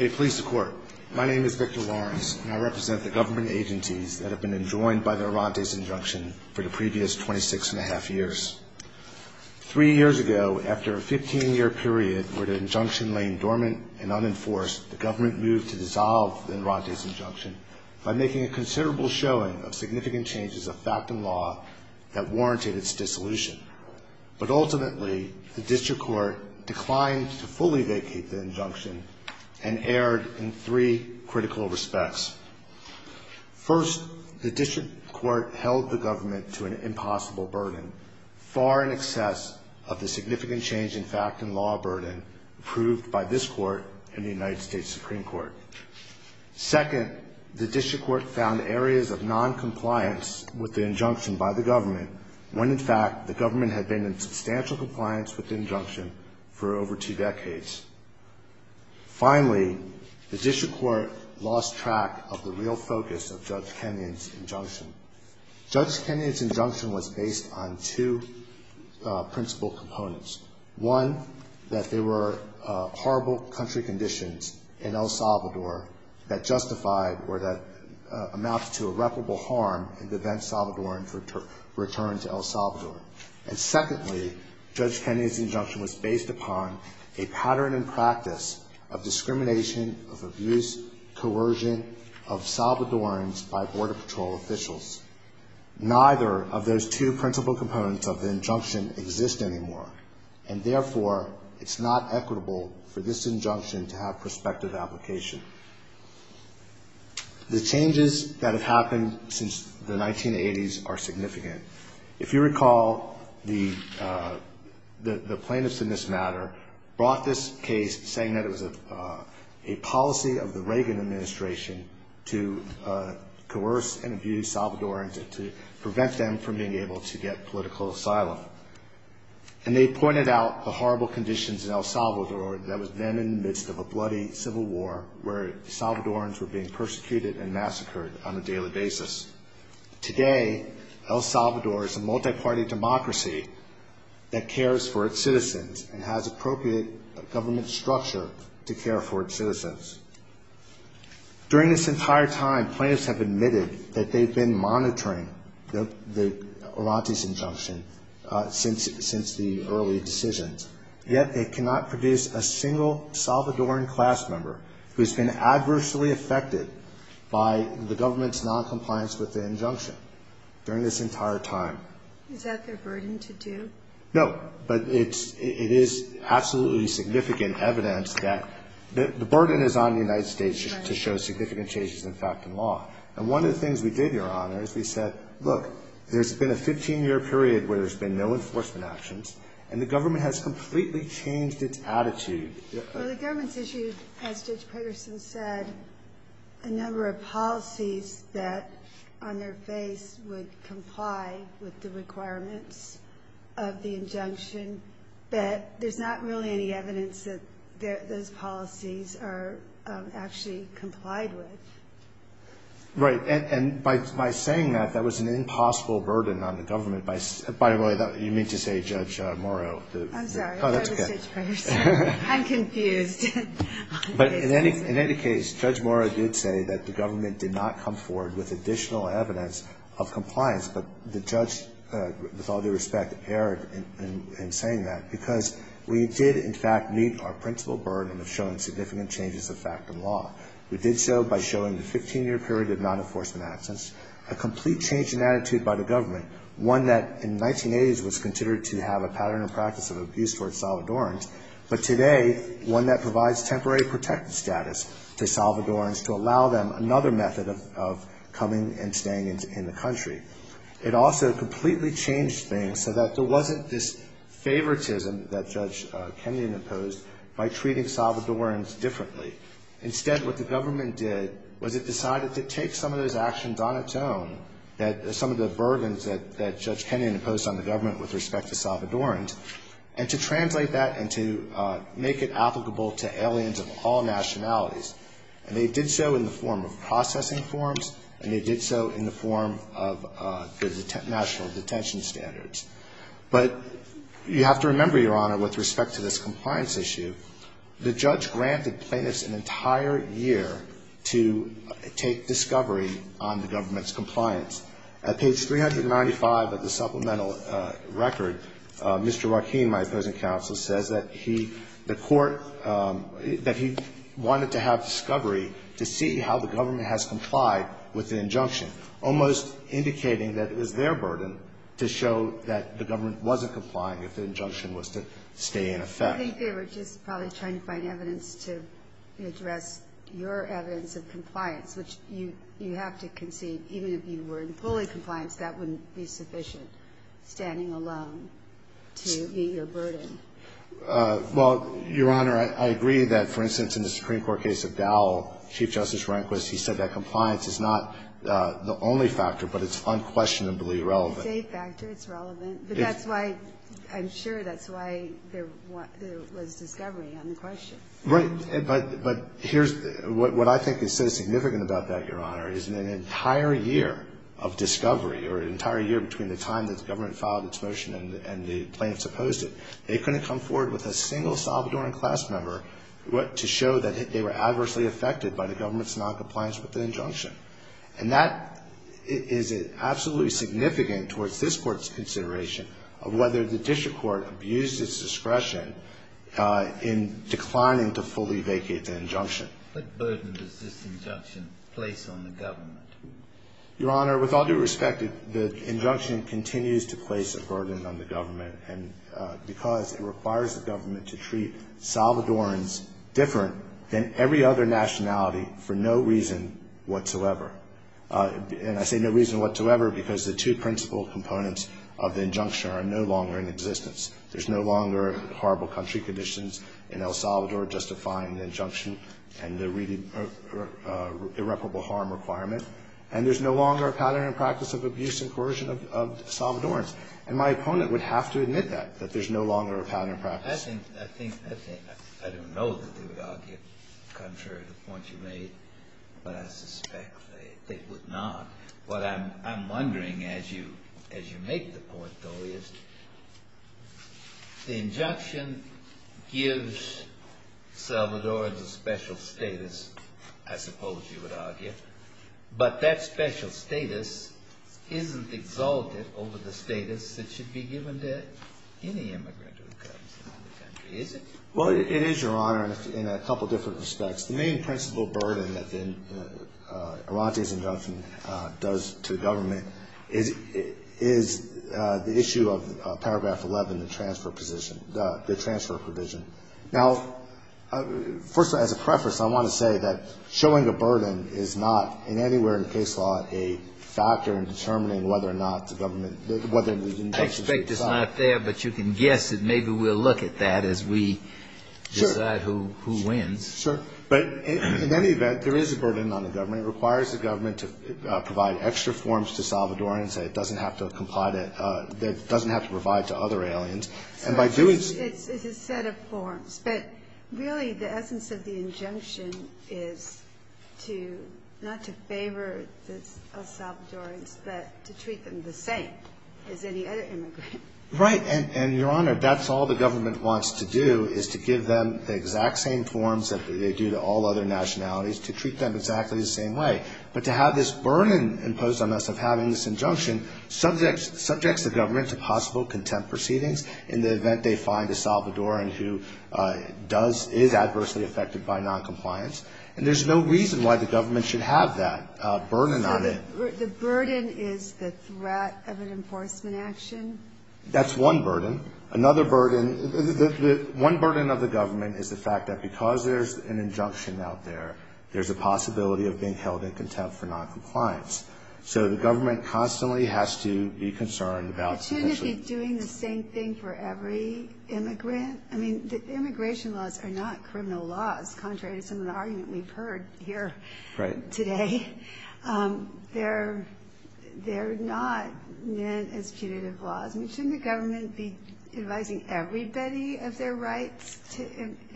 I represent the government agencies that have been enjoined by the Orantes injunction for the previous 26 1⁄2 years. Three years ago, after a 15-year period where the injunction lay dormant and unenforced, the government moved to dissolve the Orantes injunction by making a considerable showing of significant changes of fact and law that warranted its dissolution. But ultimately, the district court declined to fully vacate the injunction. and erred in three critical respects. First, the district court held the government to an impossible burden, far in excess of the significant change in fact and law burden approved by this court and the United States Supreme Court. Second, the district court found areas of noncompliance with the injunction by the government, when in fact the government had been in substantial compliance with the injunction for over two decades. Finally, the district court lost track of the real focus of Judge Kenyon's injunction. Judge Kenyon's injunction was based on two principal components. One, that there were horrible country conditions in El Salvador that justified or that amounted to irreparable harm in the event Salvadorans returned to El Salvador. And secondly, Judge Kenyon's injunction was based upon a pattern and practice of discrimination, of abuse, coercion of Salvadorans by border patrol officials. Neither of those two principal components of the injunction exist anymore, and therefore, it's not equitable for this injunction to have prospective application. The changes that have happened since the 1980s are significant. If you recall, the plaintiffs in this matter brought this case saying that it was a policy of the Reagan administration to coerce and abuse Salvadorans and to prevent them from being able to get political asylum. And they pointed out the horrible conditions in El Salvador that was then in the midst of a bloody civil war where Salvadorans were being persecuted and massacred on a daily basis. Today, El Salvador is a multi-party democracy that cares for its citizens and has appropriate government structure to care for its citizens. During this entire time, plaintiffs have admitted that they've been monitoring Orante's injunction since the early decisions, yet they cannot produce a single Salvadoran class member who has been adversely affected by the government's noncompliance with the injunction during this entire time. Is that their burden to do? No. But it is absolutely significant evidence that the burden is on the United States to show significant changes in fact and law. And one of the things we did, Your Honor, is we said, look, there's been a 15-year period where there's been no enforcement actions, and the government has completely changed its attitude. Well, the government's issued, as Judge Patterson said, a number of policies that, on their face, would comply with the requirements of the injunction. But there's not really any evidence that those policies are actually complied with. Right. And by saying that, that was an impossible burden on the government. By the way, you mean to say Judge Morrow? I'm sorry. Judge Patterson. I'm confused. But in any case, Judge Morrow did say that the government did not come forward with additional evidence of compliance. But the judge, with all due respect, erred in saying that because we did, in fact, meet our principal burden of showing significant changes of fact and law. We did so by showing the 15-year period of non-enforcement actions, a complete change in attitude by the government, one that in the 1980s was considered to have a pattern and practice of abuse toward Salvadorans, but today, one that provides temporary protective status to Salvadorans to allow them another method of coming and staying in the country. It also completely changed things so that there wasn't this favoritism that Judge Kenyon imposed by treating Salvadorans differently. Instead, what the government did was it decided to take some of those actions on its own, some of the burdens that Judge Kenyon imposed on the government with respect to Salvadorans, and to translate that and to make it applicable to aliens of all nationalities. And they did so in the form of processing forms, and they did so in the form of the national detention standards. But you have to remember, Your Honor, with respect to this compliance issue, the judge granted plaintiffs an entire year to take discovery on the government's compliance. At page 395 of the supplemental record, Mr. Joaquin, my opposing counsel, says that he, the court, that he wanted to have discovery to see how the government has complied with the injunction, almost indicating that it was their burden to show that the government wasn't complying if the injunction was to stay in effect. I think they were just probably trying to find evidence to address your evidence of compliance, which you have to concede, even if you were in fully compliance, that wouldn't be sufficient, standing alone to meet your burden. Well, Your Honor, I agree that, for instance, in the Supreme Court case of Dowell, Chief Justice Rehnquist, he said that compliance is not the only factor, but it's unquestionably relevant. It's a safe factor. It's relevant. But that's why, I'm sure that's why there was discovery on the question. Right. But here's what I think is so significant about that, Your Honor, is in an entire year of discovery, or an entire year between the time that the government filed its motion and the plaintiffs opposed it, they couldn't come forward with a single Salvadoran class member to show that they were adversely affected by the government's noncompliance with the injunction. And that is absolutely significant towards this Court's consideration of whether the district court abused its discretion in declining to fully vacate the injunction. What burden does this injunction place on the government? Your Honor, with all due respect, the injunction continues to place a burden on the government because it requires the government to treat Salvadorans different than every other nationality for no reason whatsoever. And I say no reason whatsoever because the two principal components of the injunction are no longer in existence. There's no longer horrible country conditions in El Salvador justifying the injunction and the irreparable harm requirement. And there's no longer a pattern and practice of abuse and coercion of Salvadorans. And my opponent would have to admit that, that there's no longer a pattern and practice. I don't know that they would argue contrary to the point you made, but I suspect they would not. What I'm wondering as you make the point, though, is the injunction gives Salvadorans a special status, I suppose you would argue, but that special status isn't exalted over the status that should be given to any immigrant who comes into the country, is it? Well, it is, Your Honor, in a couple different respects. The main principal burden that then Arante's injunction does to the government is the issue of paragraph 11, the transfer position, the transfer provision. Now, first, as a preface, I want to say that showing a burden is not in any way in case law a factor in determining whether or not the government whether the injunction is exalted. I expect it's not there, but you can guess it. Maybe we'll look at that as we decide who wins. Sure. But in any event, there is a burden on the government. It requires the government to provide extra forms to Salvadorans that it doesn't have to provide to other aliens. So it's a set of forms, but really the essence of the injunction is to not to favor the Salvadorans, but to treat them the same as any other immigrant. Right, and, Your Honor, that's all the government wants to do is to give them the exact same forms that they do to all other nationalities, to treat them exactly the same way. But to have this burden imposed on us of having this injunction subjects the government to possible contempt proceedings in the event they find a Salvadoran who does, is adversely affected by noncompliance. And there's no reason why the government should have that burden on it. So the burden is the threat of an enforcement action? That's one burden. Another burden, one burden of the government is the fact that because there's an injunction out there, there's a possibility of being held in contempt for noncompliance. So the government constantly has to be concerned about... Shouldn't it be doing the same thing for every immigrant? I mean, immigration laws are not criminal laws, contrary to some of the argument we've heard here today. They're not meant as punitive laws. Shouldn't the government be advising everybody of their rights to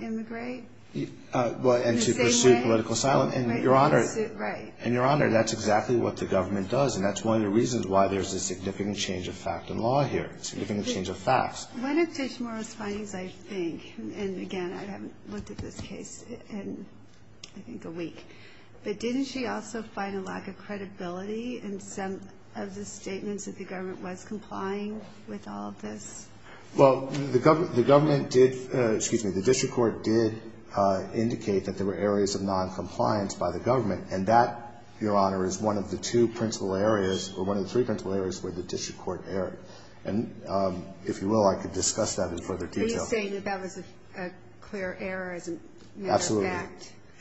immigrate? And to pursue political asylum. And, Your Honor, that's exactly what the government does, and that's one of the reasons why there's a significant change of fact in law here, a significant change of facts. One of Judge Mora's findings, I think, and, again, I haven't looked at this case in, I think, a week, but didn't she also find a lack of credibility in some of the statements that the government was complying with all of this? Well, the government did, excuse me, the district court did indicate that there were areas of noncompliance by the government, and that, Your Honor, is one of the two principal areas, or one of the three principal areas where the district court erred. And if you will, I could discuss that in further detail. Are you saying that that was a clear error as a matter of fact? Absolutely.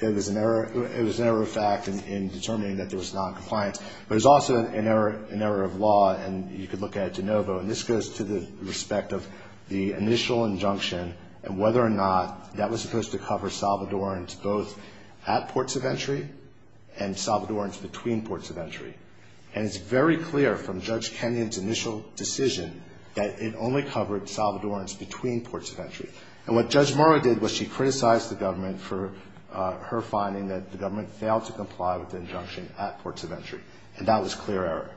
It was an error of fact in determining that there was noncompliance. But it was also an error of law, and you could look at it de novo. And this goes to the respect of the initial injunction and whether or not that was supposed to cover Salvadorans both at ports of entry and Salvadorans between ports of entry. And it's very clear from Judge Kenyon's initial decision that it only covered Salvadorans between ports of entry. And what Judge Mora did was she criticized the government for her finding that the government failed to comply with the injunction at ports of entry, and that was a clear error.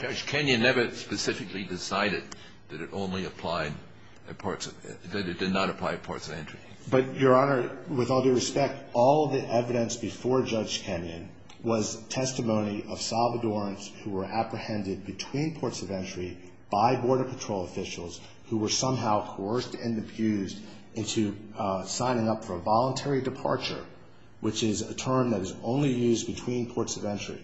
Judge Kenyon never specifically decided that it only applied at ports of entry, that it did not apply at ports of entry. But, Your Honor, with all due respect, all of the evidence before Judge Kenyon was testimony of Salvadorans who were apprehended between ports of entry by Border Patrol officials who were somehow coerced and abused into signing up for a voluntary departure, which is a term that is only used between ports of entry.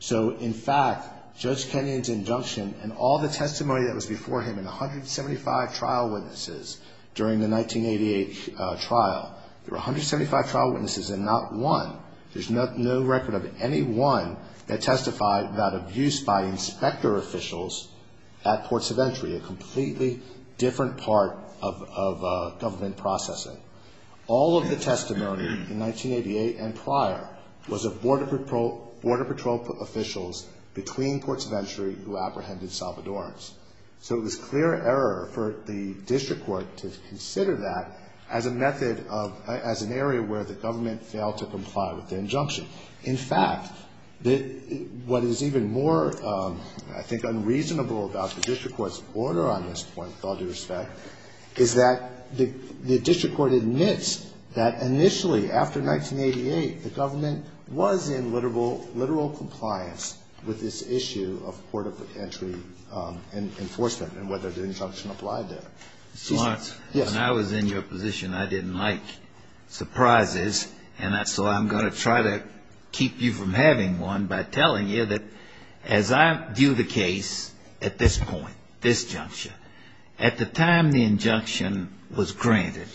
So, in fact, Judge Kenyon's injunction and all the testimony that was before him and 175 trial witnesses during the 1988 trial, there were 175 trial witnesses and not one, there's no record of any one that testified about abuse by inspector officials at ports of entry, a completely different part of government processing. All of the testimony in 1988 and prior was of Border Patrol officials between ports of entry who apprehended Salvadorans. So it was clear error for the district court to consider that as a method of, as an area where the government failed to comply with the injunction. In fact, what is even more, I think, unreasonable about the district court's order on this point, with all due respect, is that the district court admits that initially, after 1988, the government was in literal compliance with this issue of port of entry enforcement and whether the injunction applied there. Mr. Lawrence. Yes. When I was in your position, I didn't like surprises. And so I'm going to try to keep you from having one by telling you that as I view the case at this point, at the time the injunction was granted,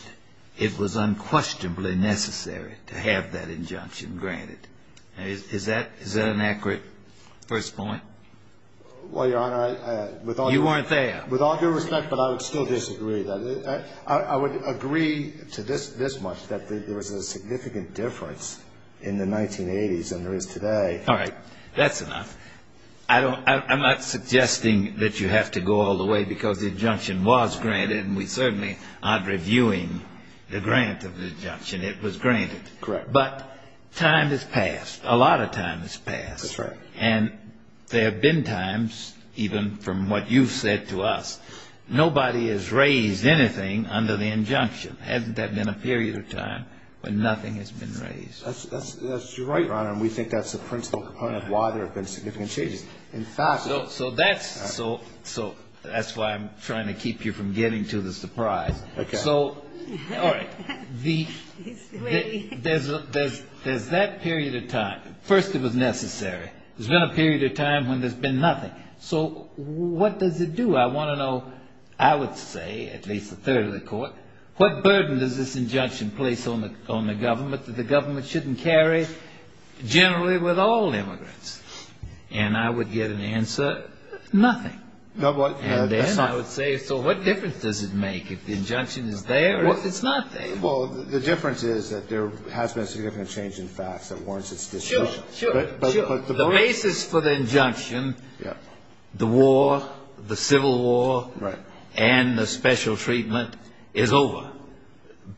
it was unquestionably necessary to have that injunction granted. Is that an accurate first point? Well, Your Honor, with all due respect. You weren't there. With all due respect, but I would still disagree. I would agree to this much, that there was a significant difference in the 1980s than there is today. All right. That's enough. I'm not suggesting that you have to go all the way because the injunction was granted, and we certainly aren't reviewing the grant of the injunction. It was granted. Correct. But time has passed. A lot of time has passed. That's right. And there have been times, even from what you've said to us, nobody has raised anything under the injunction. Hasn't there been a period of time when nothing has been raised? That's right, Your Honor. And we think that's the principal component of why there have been significant changes. In fact, So that's why I'm trying to keep you from getting to the surprise. Okay. All right. There's that period of time. First, it was necessary. There's been a period of time when there's been nothing. So what does it do? I want to know, I would say, at least a third of the Court, what burden does this injunction place on the government that the government shouldn't carry generally with all immigrants? And I would get an answer, nothing. And then I would say, so what difference does it make if the injunction is there or if it's not there? Well, the difference is that there has been significant change in facts that warrants its distribution. Sure, sure. The basis for the injunction, the war, the Civil War, and the special treatment is over.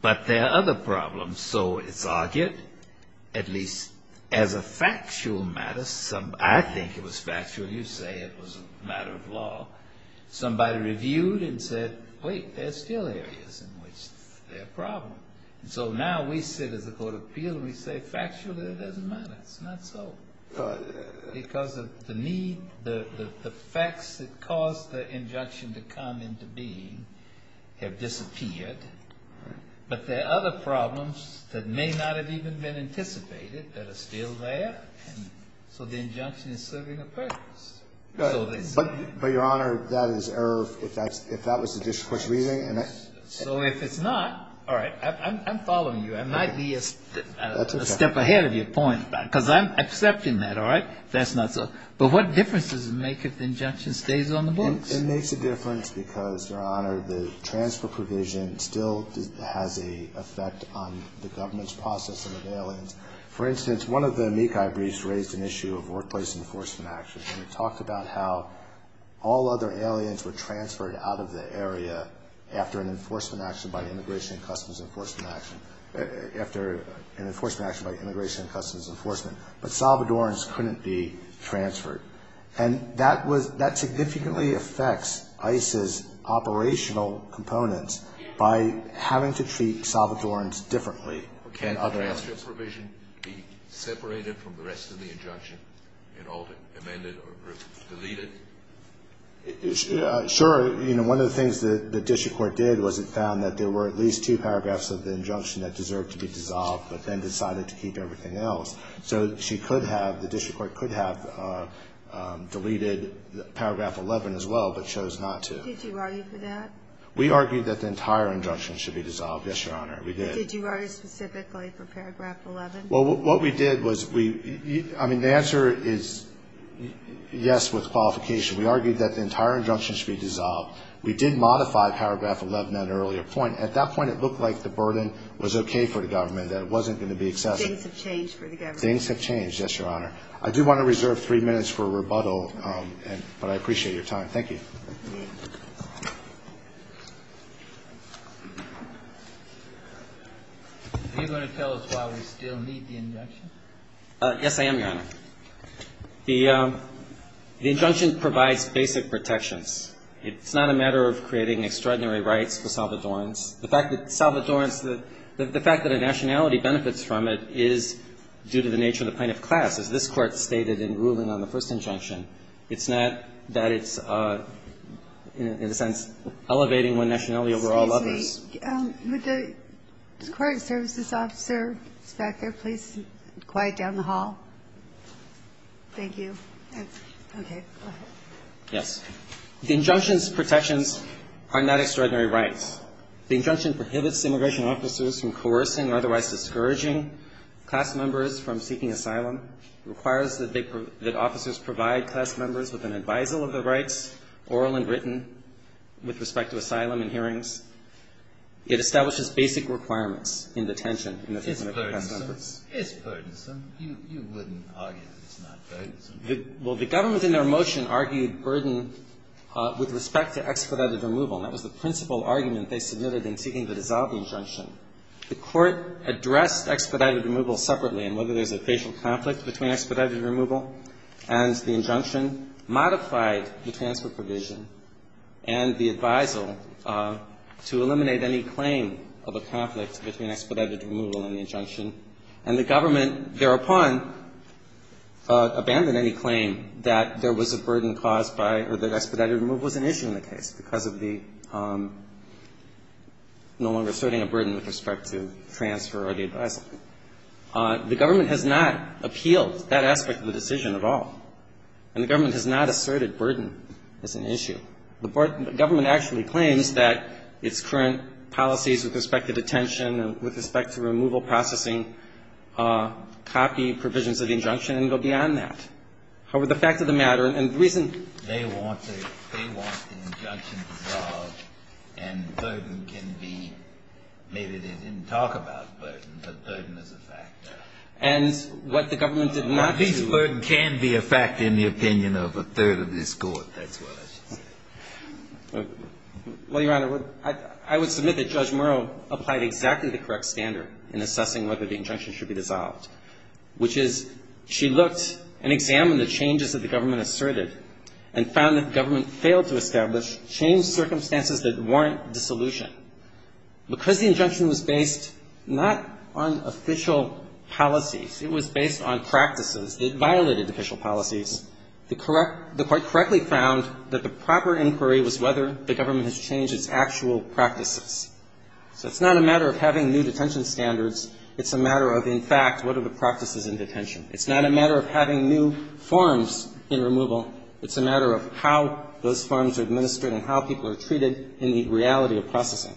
But there are other problems. So it's argued, at least as a factual matter, I think it was factual. You say it was a matter of law. Somebody reviewed and said, wait, there are still areas in which there are problems. So now we sit as a court of appeal and we say, factually, it doesn't matter. It's not so. Because of the need, the facts that caused the injunction to come into being have disappeared. But there are other problems that may not have even been anticipated that are still there. So the injunction is serving a purpose. But, Your Honor, that is error if that was the district court's reasoning. So if it's not, all right, I'm following you. I might be a step ahead of your point. Because I'm accepting that, all right? If that's not so. But what difference does it make if the injunction stays on the books? It makes a difference because, Your Honor, the transfer provision still has an effect on the government's processing of aliens. For instance, one of the amici briefs raised an issue of workplace enforcement actions. It talked about how all other aliens were transferred out of the area after an enforcement action by Immigration and Customs Enforcement. After an enforcement action by Immigration and Customs Enforcement. But Salvadorans couldn't be transferred. And that significantly affects ICE's operational components by having to treat Salvadorans differently than other aliens. Could the transfer provision be separated from the rest of the injunction and amended or deleted? Sure. You know, one of the things that the district court did was it found that there were at least two paragraphs of the injunction that deserved to be dissolved, but then decided to keep everything else. So she could have, the district court could have deleted paragraph 11 as well, but chose not to. Did you argue for that? We argued that the entire injunction should be dissolved, yes, Your Honor. We did. Did you argue specifically for paragraph 11? Well, what we did was we, I mean, the answer is yes with qualification. We argued that the entire injunction should be dissolved. We did modify paragraph 11 at an earlier point. At that point, it looked like the burden was okay for the government, that it wasn't going to be excessive. Things have changed for the government. Things have changed, yes, Your Honor. I do want to reserve three minutes for rebuttal, but I appreciate your time. Thank you. Are you going to tell us why we still need the injunction? Yes, I am, Your Honor. The injunction provides basic protections. It's not a matter of creating extraordinary rights for Salvadorans. The fact that Salvadorans, the fact that a nationality benefits from it is due to the nature of the plaintiff class. As this Court stated in ruling on the first injunction, it's not that it's, in a sense, elevating one nationality over all others. Excuse me. Would the court services officer back there please quiet down the hall? Thank you. Okay. Go ahead. Yes. The injunction's protections are not extraordinary rights. The injunction prohibits immigration officers from coercing or otherwise discouraging class members from seeking asylum. It requires that they, that officers provide class members with an advisal of their rights, oral and written, with respect to asylum and hearings. It establishes basic requirements in detention. It's burdensome. It's burdensome. You wouldn't argue that it's not burdensome. Well, the government in their motion argued burden with respect to expedited removal. That was the principal argument they submitted in seeking to dissolve the injunction. The court addressed expedited removal separately, and whether there's a facial conflict between expedited removal and the injunction, modified the transfer provision and the advisal to eliminate any claim of a conflict between expedited removal and the injunction. And the government thereupon abandoned any claim that there was a burden caused by or that expedited removal was an issue in the case because of the no longer asserting a burden with respect to transfer or the advisal. The government has not appealed that aspect of the decision at all. And the government has not asserted burden as an issue. The government actually claims that its current policies with respect to detention and with respect to removal processing copy provisions of the injunction and go beyond that. However, the fact of the matter, and the reason they want to – they want the injunction dissolved and burden can be – maybe they didn't talk about burden, but burden is a factor. And what the government did not do – At least burden can be a factor in the opinion of a third of this Court. That's what I should say. Well, Your Honor, I would submit that Judge Murrow applied exactly the correct standard in assessing whether the injunction should be dissolved, which is she looked and examined the changes that the government asserted and found that the government failed to establish changed circumstances that warrant dissolution. Because the injunction was based not on official policies. It was based on practices. It violated official policies. The court correctly found that the proper inquiry was whether the government has changed its actual practices. So it's not a matter of having new detention standards. It's a matter of, in fact, what are the practices in detention. It's not a matter of having new forms in removal. It's a matter of how those forms are administered and how people are treated in the reality of processing.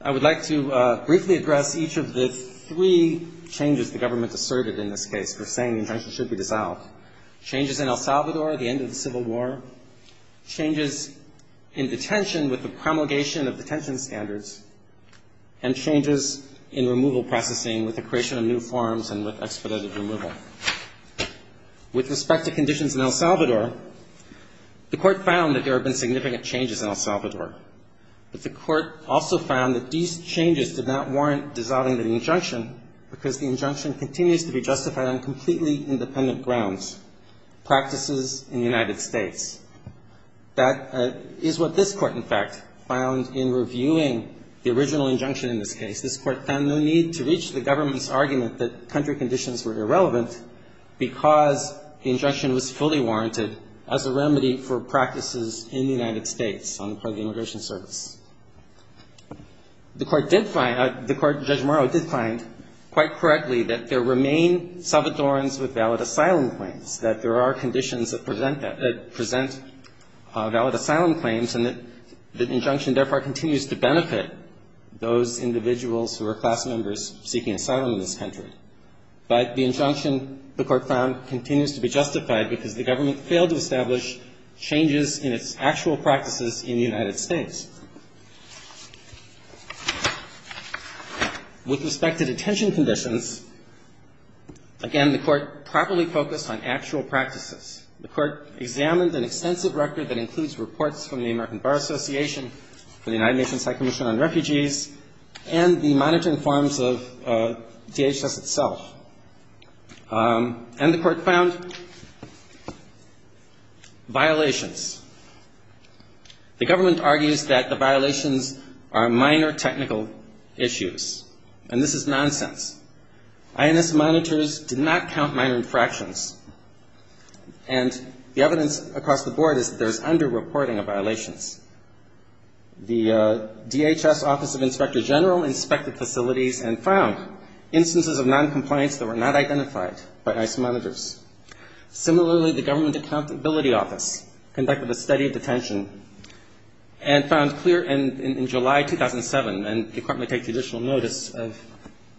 I would like to briefly address each of the three changes the government asserted in this case for saying the injunction should be dissolved. Changes in El Salvador at the end of the Civil War, changes in detention with the promulgation of detention standards, and changes in removal processing with the creation of new forms and with expedited removal. With respect to conditions in El Salvador, the court found that there have been significant changes in El Salvador. But the court also found that these changes did not warrant dissolving the injunction because the injunction continues to be justified on completely independent grounds, practices in the United States. That is what this Court, in fact, found in reviewing the original injunction in this case. This Court found no need to reach the government's argument that country conditions were irrelevant because the injunction was fully warranted as a remedy for practices in the United States on the part of the Immigration Service. The Court did find, the Court, Judge Morrow did find quite correctly that there remain Salvadorans with valid asylum claims, that there are conditions that present that, that present valid asylum claims, and that the injunction, therefore, continues to benefit those individuals who are class members seeking asylum in this country. But the injunction, the Court found, continues to be justified because the government failed to establish changes in its actual practices in the United States. With respect to detention conditions, again, the Court properly focused on actual practices. The Court examined an extensive record that includes reports from the American Bar Association, from the United Nations High Commission on Refugees, and the monitoring forms of DHS itself. And the Court found violations. The government argues that the violations are minor technical issues. And this is nonsense. INS monitors did not count minor infractions. And the evidence across the board is that there's underreporting of violations. The DHS Office of Inspector General inspected facilities and found instances of noncompliance that were not identified by IS monitors. Similarly, the Government Accountability Office conducted a study of detention and found clear in July 2007, and the Court may take additional notice of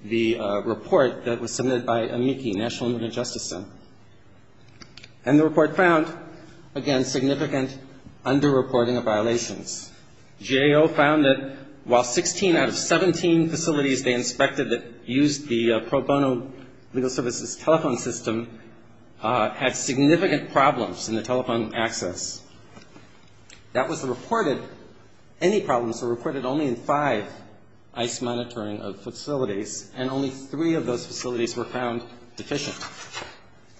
the report that was submitted by AMICI, National Injury Justice Center. And the report found, again, significant underreporting of violations. GAO found that while 16 out of 17 facilities they inspected that used the pro bono legal services telephone system had significant problems in the telephone access. That was reported, any problems were reported only in five IS monitoring of facilities, and only three of those facilities were found deficient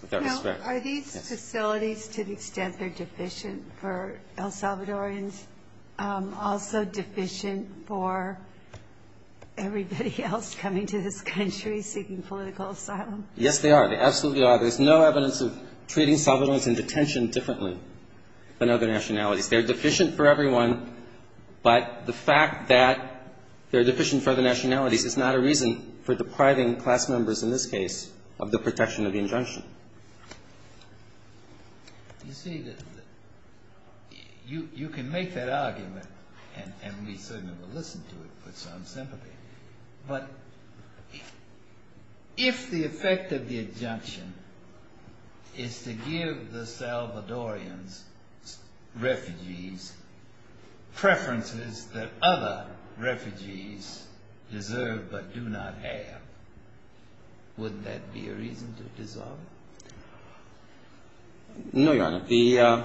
with that respect. Now, are these facilities, to the extent they're deficient for El Salvadorans, also deficient for everybody else coming to this country seeking political asylum? Yes, they are. They absolutely are. There's no evidence of treating Salvadorans in detention differently than other nationalities. They're deficient for everyone, but the fact that they're deficient for other nationalities is not a reason for depriving class members in this case of the protection of the injunction. You see, you can make that argument, and we certainly will listen to it with some sympathy, but if the effect of the injunction is to give the Salvadorans refugees preferences that other refugees deserve but do not have, wouldn't that be a reason to dissolve it? No, Your Honor. The,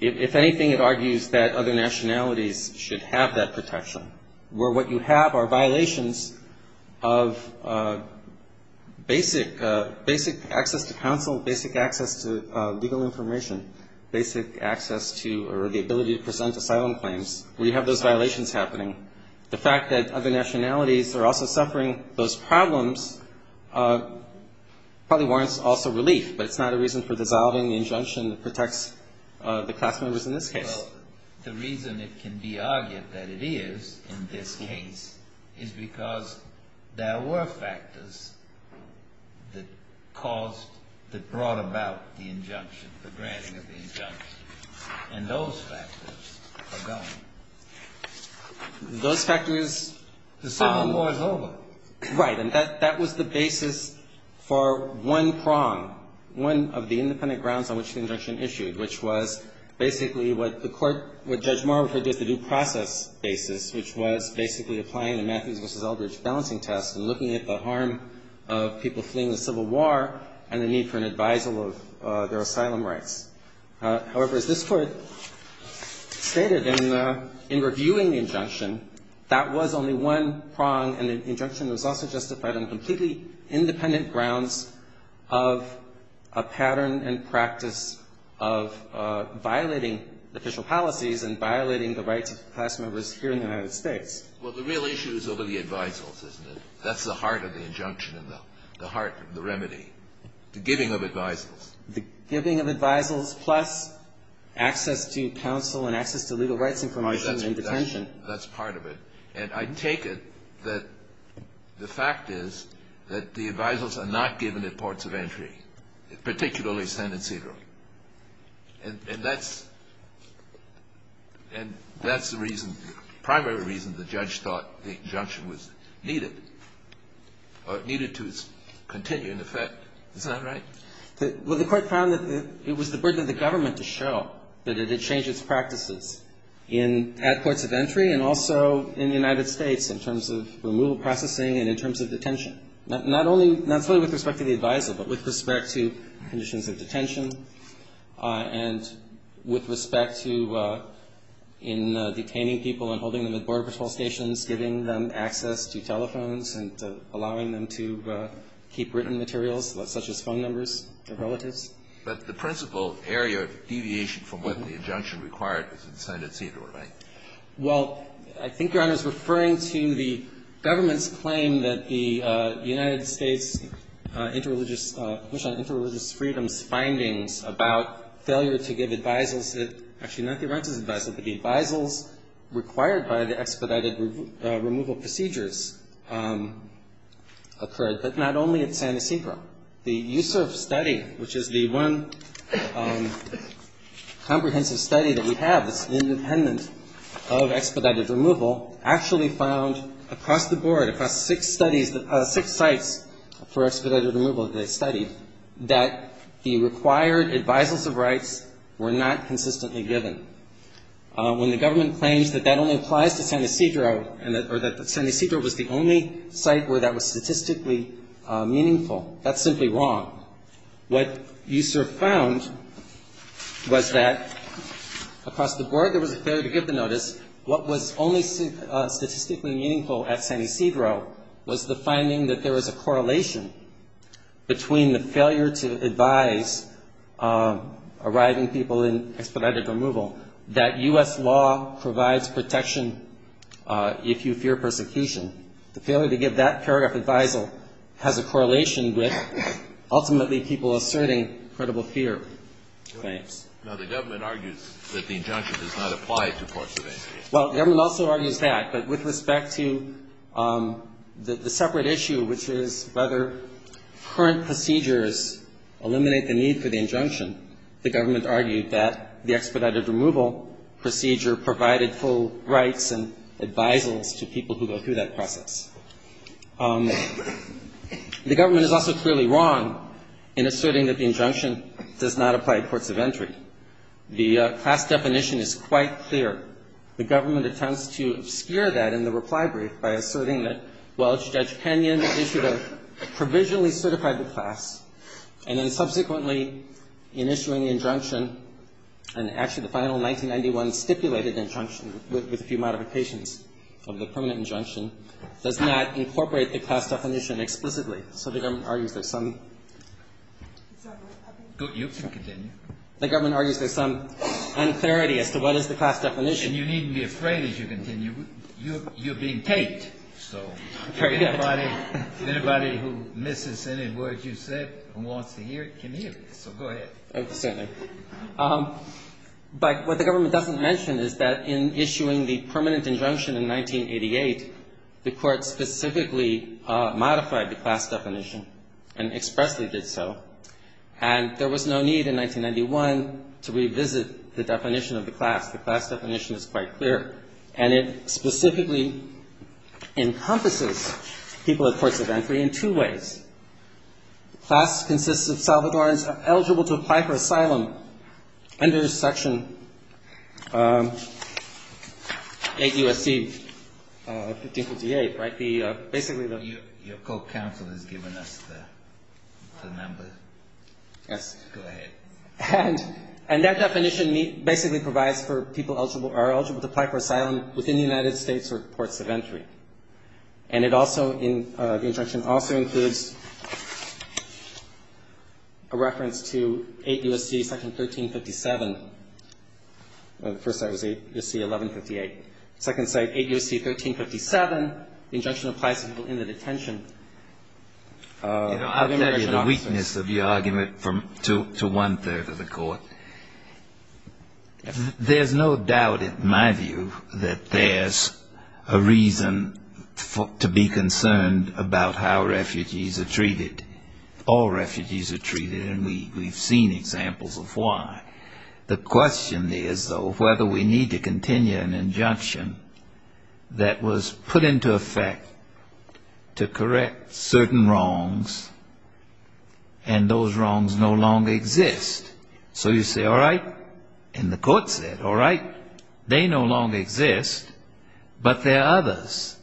if anything, it argues that other nationalities should have that protection, where what you have are violations of basic access to counsel, basic access to legal information, basic access to, or the ability to present asylum claims, where you have those violations happening. The fact that other nationalities are also suffering those problems probably warrants also relief, but it's not a reason for dissolving the injunction that protects the class members in this case. Well, the reason it can be argued that it is in this case is because there were factors that caused, that brought about the injunction, the granting of the injunction, and those factors are gone. Those factors... The Civil War is over. Right. And that was the basis for one prong, one of the independent grounds on which the injunction issued, which was basically what the court, what Judge Morrow referred to as the due process basis, which was basically applying the Matthews v. Eldridge balancing test and looking at the harm of people fleeing the Civil War and the need for an advisal of their asylum rights. However, as this Court stated in reviewing the injunction, that was only one prong, and the injunction was also justified on completely independent grounds of a pattern and practice of violating official policies and violating the rights of class members here in the United States. Well, the real issue is over the advisals, isn't it? That's the heart of the injunction and the heart of the remedy, the giving of advisals. The giving of advisals plus access to counsel and access to legal rights information in detention. That's part of it, and I take it that the fact is that the advisals are not given at ports of entry, particularly Senate cedar. And that's the reason, the primary reason the judge thought the injunction was needed, or needed to continue in effect. Isn't that right? Well, the Court found that it was the burden of the government to show that it had changed its practices in at ports of entry and also in the United States in terms of removal processing and in terms of detention. Not only, not solely with respect to the advisal, but with respect to conditions of detention and with respect to in detaining people and holding them at border patrol stations, giving them access to telephones and allowing them to keep written materials such as phone numbers to relatives. But the principal area of deviation from what the injunction required is in Senate cedar, right? Well, I think Your Honor is referring to the government's claim that the United States interreligious, push on interreligious freedoms findings about failure to give advisals that, actually not the right to give advisals, but the advisals required by the expedited removal procedures occurred, but not only at San Ysidro. The USURF study, which is the one comprehensive study that we have that's independent of expedited removal, actually found across the board, across six studies, six sites for expedited removal that they studied, that the required advisals of rights were not consistently given. When the government claims that that only applies to San Ysidro, or that San Ysidro was the only site where that was statistically meaningful, that's simply wrong. What USURF found was that across the board there was a failure to give the notice. What was only statistically meaningful at San Ysidro was the finding that there was a correlation between the failure to advise arriving people in expedited removal and the failure to give that U.S. law provides protection if you fear persecution. The failure to give that paragraph of advisal has a correlation with ultimately people asserting credible fear claims. Well, the government also argues that, but with respect to the separate issue, which is whether current procedures eliminate the need for the injunction, the government argued that the expedited removal procedure provided full rights and advisals to people who go through that process. The government is also clearly wrong in asserting that the injunction does not apply at ports of entry. The class definition is quite clear. The government attempts to obscure that in the reply brief by asserting that, well, Judge O'Connor, and actually the final 1991 stipulated injunction, with a few modifications of the permanent injunction, does not incorporate the class definition explicitly. So the government argues that some unclarity as to what is the class definition. And you needn't be afraid as you continue. You're being taped. So if anybody who misses any words you said who wants to hear it can hear it. So go ahead. But what the government doesn't mention is that in issuing the permanent injunction in 1988, the Court specifically modified the class definition and expressly did so. And there was no need in 1991 to revisit the definition of the class. The class definition is quite clear. And it specifically encompasses people at ports of entry in two ways. Class consists of Salvadorans eligible to apply for asylum under Section 8 U.S.C. 1558, right? Basically the ---- has given us the number. Go ahead. And that definition basically provides for people eligible to apply for asylum within the United States or ports of entry. And the injunction also includes a reference to 8 U.S.C. Section 1357. The first site was 8 U.S.C. 1158. The second site, 8 U.S.C. 1357. The injunction applies to people in the detention of immigration officers. I'll tell you the weakness of your argument to one-third of the Court. There's no doubt in my view that there's a reason to be concerned about how refugees are treated. All refugees are treated, and we've seen examples of why. The question is, though, whether we need to continue an injunction that was put into effect to correct certain wrongs, and those wrongs no longer exist. So you say, all right, and the Court said, all right, they no longer exist, but there are others.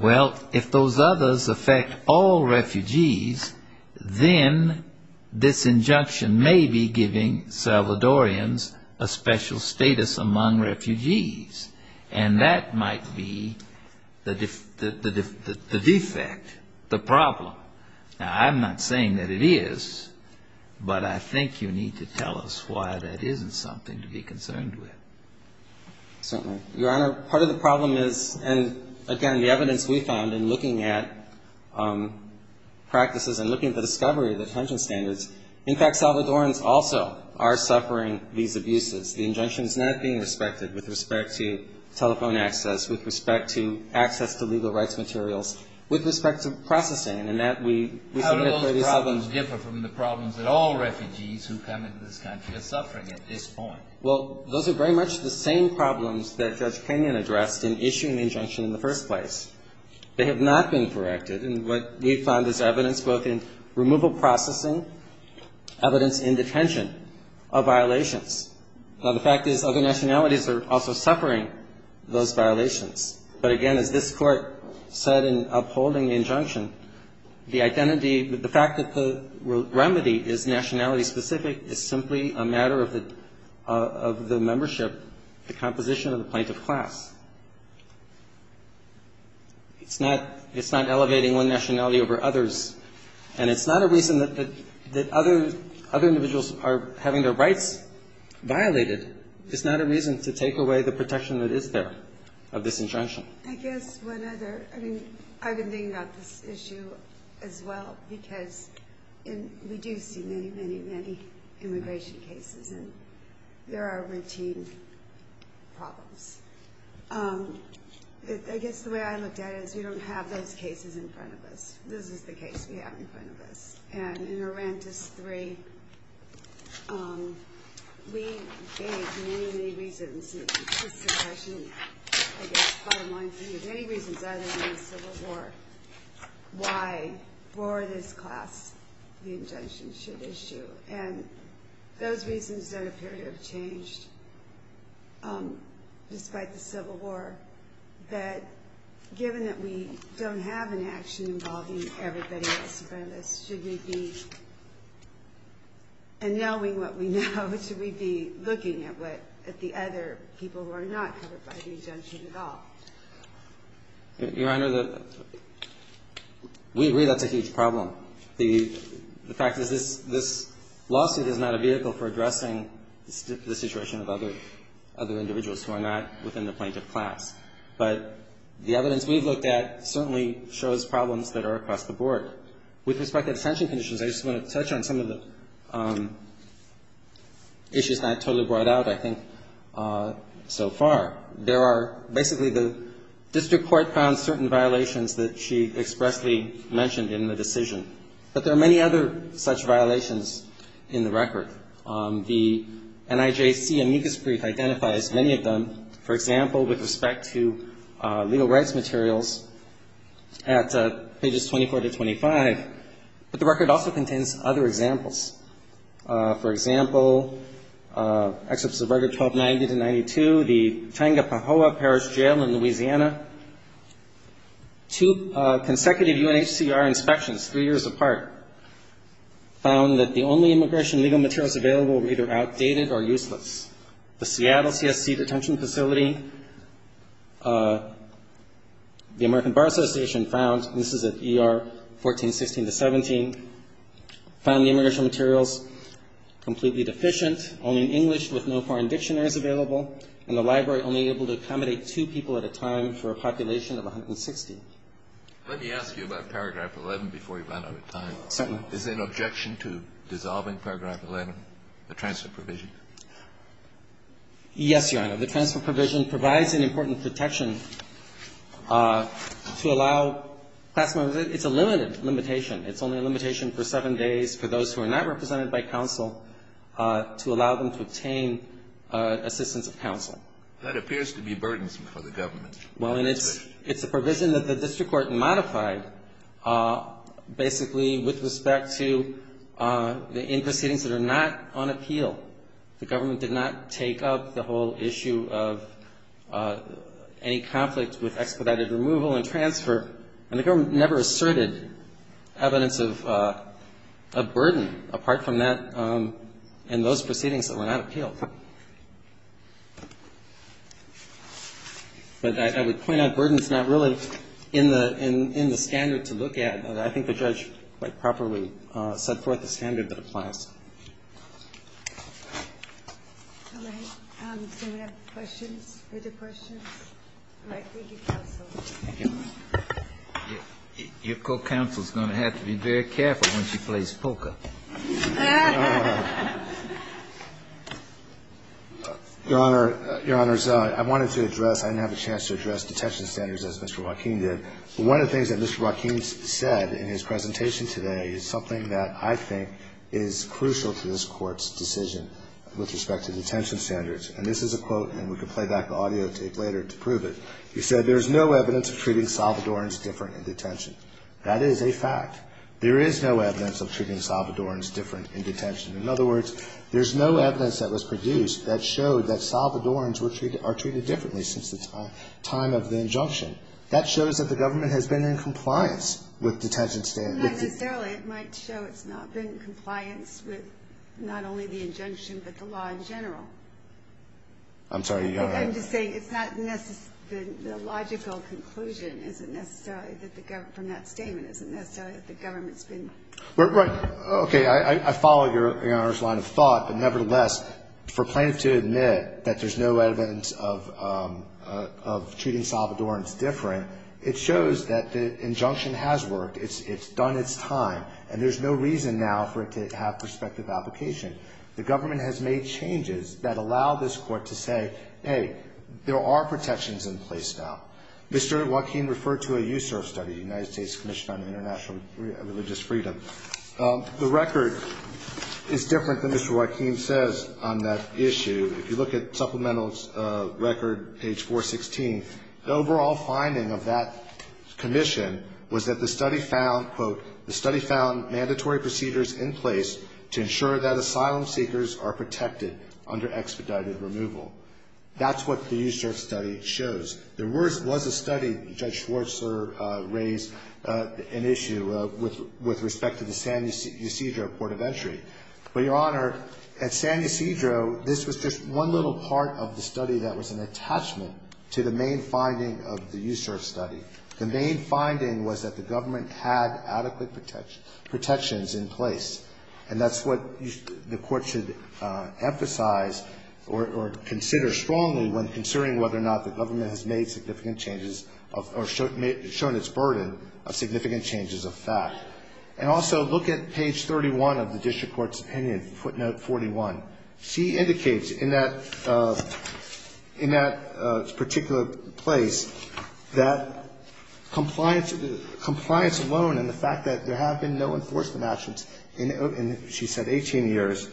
Well, if those others affect all refugees, then this injunction may be giving Salvadorians a special status among refugees. And that might be the defect, the problem. Now, I'm not saying that it is, but I think you need to tell us why that isn't something to be concerned with. Certainly. Your Honor, part of the problem is, and again, the evidence we found in looking at practices and looking at the discovery of detention standards, in fact, Salvadorians also are suffering these abuses. The injunction is not being respected with respect to telephone access, with respect to access to legal rights materials, with respect to processing. And that we submit for these problems. The problems differ from the problems that all refugees who come into this country are suffering at this point. Well, those are very much the same problems that Judge Kenyon addressed in issuing the injunction in the first place. They have not been corrected, and what we found is evidence both in removal processing, evidence in detention of violations. Now, the fact is, other nationalities are also suffering those violations. But again, as this Court said in upholding the injunction, the identity, the fact that the remedy is nationality-specific is simply a matter of the membership, the composition of the plaintiff class. It's not elevating one nationality over others, and it's not a reason that other individuals are having their rights violated. It's not a reason to take away the protection that is there of this injunction. I guess one other, I mean, I've been thinking about this issue as well, because we do see many, many, many immigration cases, and there are routine problems. I guess the way I looked at it is we don't have those cases in front of us. This is the case we have in front of us. There are many, many reasons, and this is a question, I guess, bottom line for you. There are many reasons, other than the Civil War, why for this class the injunction should issue. And those reasons don't appear to have changed despite the Civil War. But given that we don't have an action involving everybody else in front of us, should we be annulling what we know? Or should we be looking at the other people who are not covered by the injunction at all? Your Honor, we agree that's a huge problem. The fact is this lawsuit is not a vehicle for addressing the situation of other individuals who are not within the plaintiff class. But the evidence we've looked at certainly shows problems that are across the board. With respect to extension conditions, I just want to touch on some of the issues not totally brought out, I think, so far. There are basically the district court found certain violations that she expressly mentioned in the decision. But there are many other such violations in the record. The NIJC amicus brief identifies many of them. For example, with respect to legal rights materials at pages 24 to 25. But the record also contains other examples. For example, excerpts of Record 1290 to 92, the Changa Pahoa Parish Jail in Louisiana. Two consecutive UNHCR inspections, three years apart, found that the only immigration legal materials available were either outdated or useless. The Seattle CSC detention facility, the American Bar Association found, and this is at ER 1416 to 17, found the immigration materials completely deficient, only in English with no foreign dictionaries available, and the library only able to accommodate two people at a time for a population of 160. Let me ask you about paragraph 11 before you run out of time. Certainly. Is there an objection to dissolving paragraph 11, the transfer provision? Yes, Your Honor. The transfer provision provides an important protection to allow class members It's a limited limitation. It's only a limitation for seven days for those who are not represented by counsel to allow them to obtain assistance of counsel. That appears to be burdensome for the government. Well, and it's a provision that the district court modified basically with respect to the in proceedings that are not on appeal. The government did not take up the whole issue of any conflict with expedited removal and transfer, and the government never asserted evidence of burden apart from that in those proceedings that were not appealed. But I would point out burden is not really in the standard to look at. And I think the judge quite properly set forth a standard that applies. All right. Does anyone have questions, further questions? All right. Thank you, counsel. Thank you. Your co-counsel is going to have to be very careful when she plays poker. Your Honor, Your Honors, I wanted to address, I didn't have a chance to address detention standards as Mr. Joaquin said in his presentation today. It's something that I think is crucial to this Court's decision with respect to detention standards. And this is a quote, and we can play back the audio tape later to prove it. He said, There is no evidence of treating Salvadorans different in detention. That is a fact. There is no evidence of treating Salvadorans different in detention. In other words, there's no evidence that was produced that showed that Salvadorans were treated, are treated differently since the time of the injunction. That shows that the government has been in compliance with detention standards. Not necessarily. It might show it's not been in compliance with not only the injunction but the law in general. I'm sorry, Your Honor. I'm just saying it's not necessarily, the logical conclusion isn't necessarily that the government, from that statement isn't necessarily that the government's been. Right. Okay. I follow Your Honor's line of thought. But nevertheless, for plaintiff to admit that there's no evidence of treating Salvadorans different, it shows that the injunction has worked. It's done its time. And there's no reason now for it to have prospective application. The government has made changes that allow this Court to say, hey, there are protections in place now. Mr. Joaquin referred to a USURF study, United States Commission on International Religious Freedom. The record is different than Mr. Joaquin says on that issue. If you look at supplemental record, page 416, the overall finding of that commission was that the study found, quote, the study found mandatory procedures in place to ensure that asylum seekers are protected under expedited removal. That's what the USURF study shows. There was a study, Judge Schwarzer raised an issue with respect to the San Ysidro Port of Entry. But, Your Honor, at San Ysidro, this was just one little part of the study that was an attachment to the main finding of the USURF study. The main finding was that the government had adequate protections in place. And that's what the Court should emphasize or consider strongly when considering whether or not the government has made significant changes or shown its burden of significant changes of fact. And also look at page 31 of the district court's opinion, footnote 41. She indicates in that particular place that compliance alone and the fact that there have been no enforcement actions in, she said, 18 years,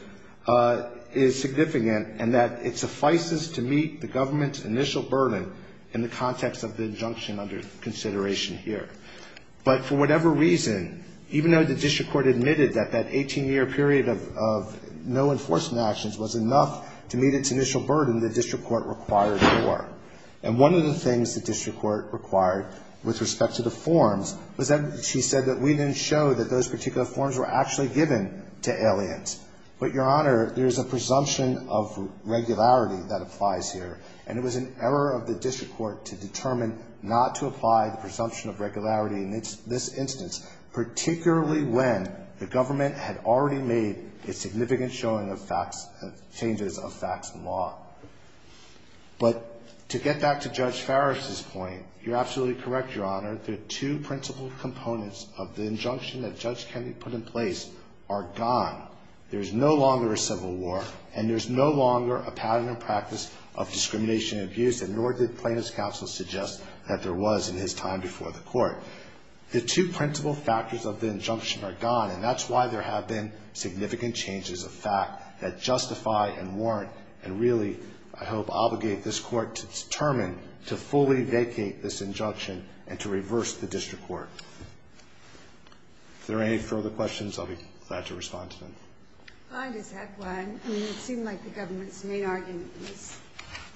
is significant and that it suffices to meet the government's initial burden in the context of the injunction under consideration here. But for whatever reason, even though the district court admitted that that 18-year period of no enforcement actions was enough to meet its initial burden, the district court required more. And one of the things the district court required with respect to the forms was that, she said that we didn't show that those particular forms were actually given to aliens. But, Your Honor, there's a presumption of regularity that applies here. And it was an error of the district court to determine not to apply the presumption of regularity in this instance, particularly when the government had already made a significant showing of facts, changes of facts in law. But to get back to Judge Farris's point, you're absolutely correct, Your Honor. The two principal components of the injunction that Judge Kennedy put in place are gone. There's no longer a civil war and there's no longer a pattern and practice of discrimination and abuse, and nor did plaintiff's counsel suggest that there was in his time before the court. The two principal factors of the injunction are gone, and that's why there have been significant changes of fact that justify and warrant and really, I hope, obligate this court to determine to fully vacate this injunction and to reverse the district court. If there are any further questions, I'll be glad to respond to them. I just have one. It seemed like the government's main argument was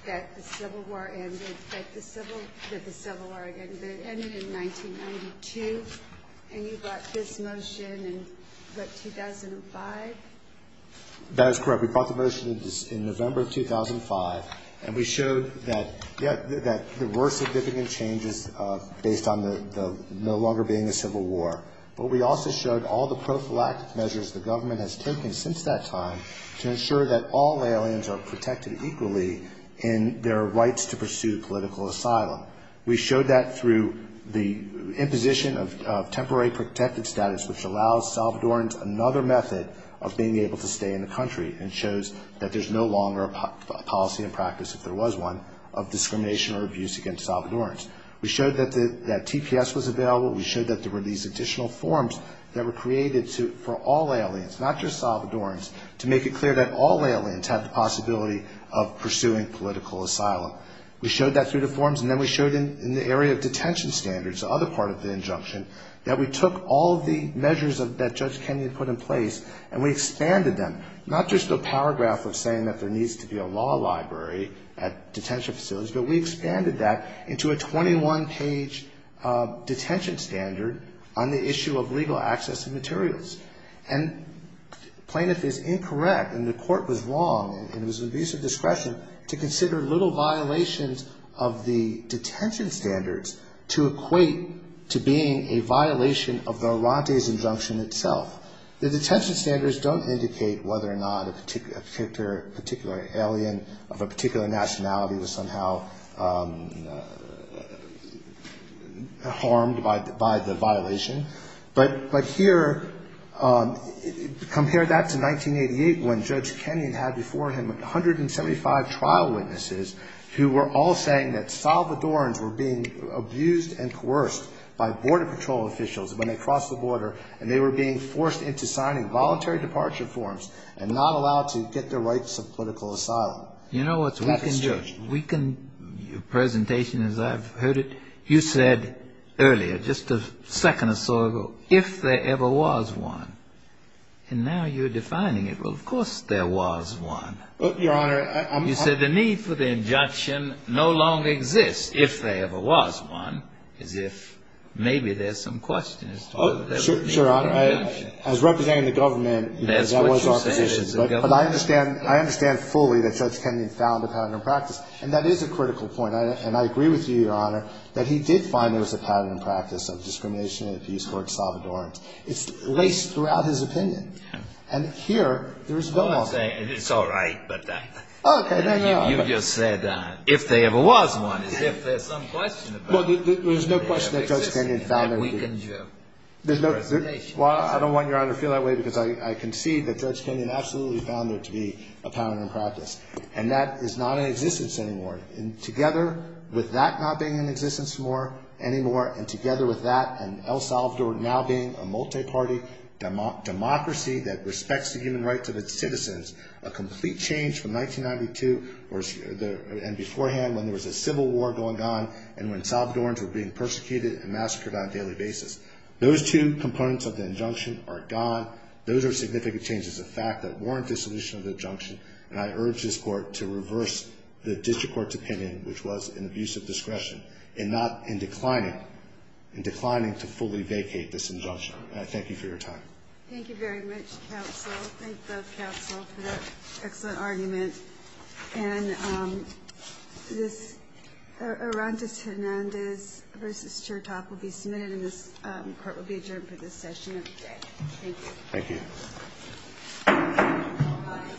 that the civil war ended in 1992, and you brought this motion in, what, 2005? That is correct. We brought the motion in November of 2005, and we showed that there were significant changes based on the no longer being a civil war. But we also showed all the prophylactic measures the government has taken since that time to ensure that all aliens are protected equally in their rights to pursue political asylum. We showed that through the imposition of temporary protective status, which allows Salvadorans another method of being able to stay in the country and shows that there's no longer a policy in practice, if there was one, of discrimination or abuse against Salvadorans. We showed that TPS was available. We showed that there were these additional forms that were created for all aliens, not just Salvadorans, to make it clear that all aliens have the possibility of pursuing political asylum. We showed that through the forms, and then we showed in the area of detention standards, the other part of the injunction, that we took all the measures that Judge Kenyon put in place, and we expanded them, not just a paragraph of saying that there needs to be a law library at detention facilities, but we expanded that into a 21-page detention standard on the issue of legal access to materials. And plaintiff is incorrect, and the court was wrong, and it was an abuse of discretion, to consider little violations of the detention standards to equate to being a violation of the Orante's injunction itself. The detention standards don't indicate whether or not a particular alien of a particular nationality was somehow harmed by the violation. But here, compare that to 1988, when Judge Kenyon had before him 175 trial witnesses who were all saying that Salvadorans were being abused and coerced by Border Patrol officials when they crossed the border, and they were being forced into signing voluntary departure forms and not allowed to get their rights of political asylum. You know what's weakened your presentation as I've heard it? You said earlier, just a second or so ago, if there ever was one. And now you're defining it. Well, of course there was one. Your Honor, I'm... You said the need for the injunction no longer exists if there ever was one, as if maybe there's some questions. Oh, sure, Your Honor. I was representing the government. That's what you're saying is the government. But I understand fully that Judge Kenyon found a pattern in practice. And that is a critical point. And I agree with you, Your Honor, that he did find there was a pattern in practice of discrimination in the Peace Corps at Salvadorans. It's laced throughout his opinion. And here, there is no... It's all right. Okay. You just said if there ever was one, as if there's some question about it. Well, there's no question that Judge Kenyon found... That weakened your presentation. Well, I don't want Your Honor to feel that way because I concede that Judge Kenyon absolutely found there to be a pattern in practice. And that is not in existence anymore. And together with that not being in existence anymore and together with that and El Salvador now being a multi-party democracy that respects the human rights of its citizens, a complete change from 1992 and beforehand when there was a civil war going on and when Salvadorans were being persecuted and massacred on a daily basis. Those two components of the injunction are gone. Those are significant changes of fact that warrant dissolution of the injunction. And I urge this Court to reverse the district court's opinion, which was in abuse of discretion, and not in declining to fully vacate this injunction. And I thank you for your time. Thank you very much, counsel. Thank the counsel for that excellent argument. And this Arantes-Hernandez v. Chertoff will be submitted and this Court will be adjourned for this session of the day. Thank you. Thank you.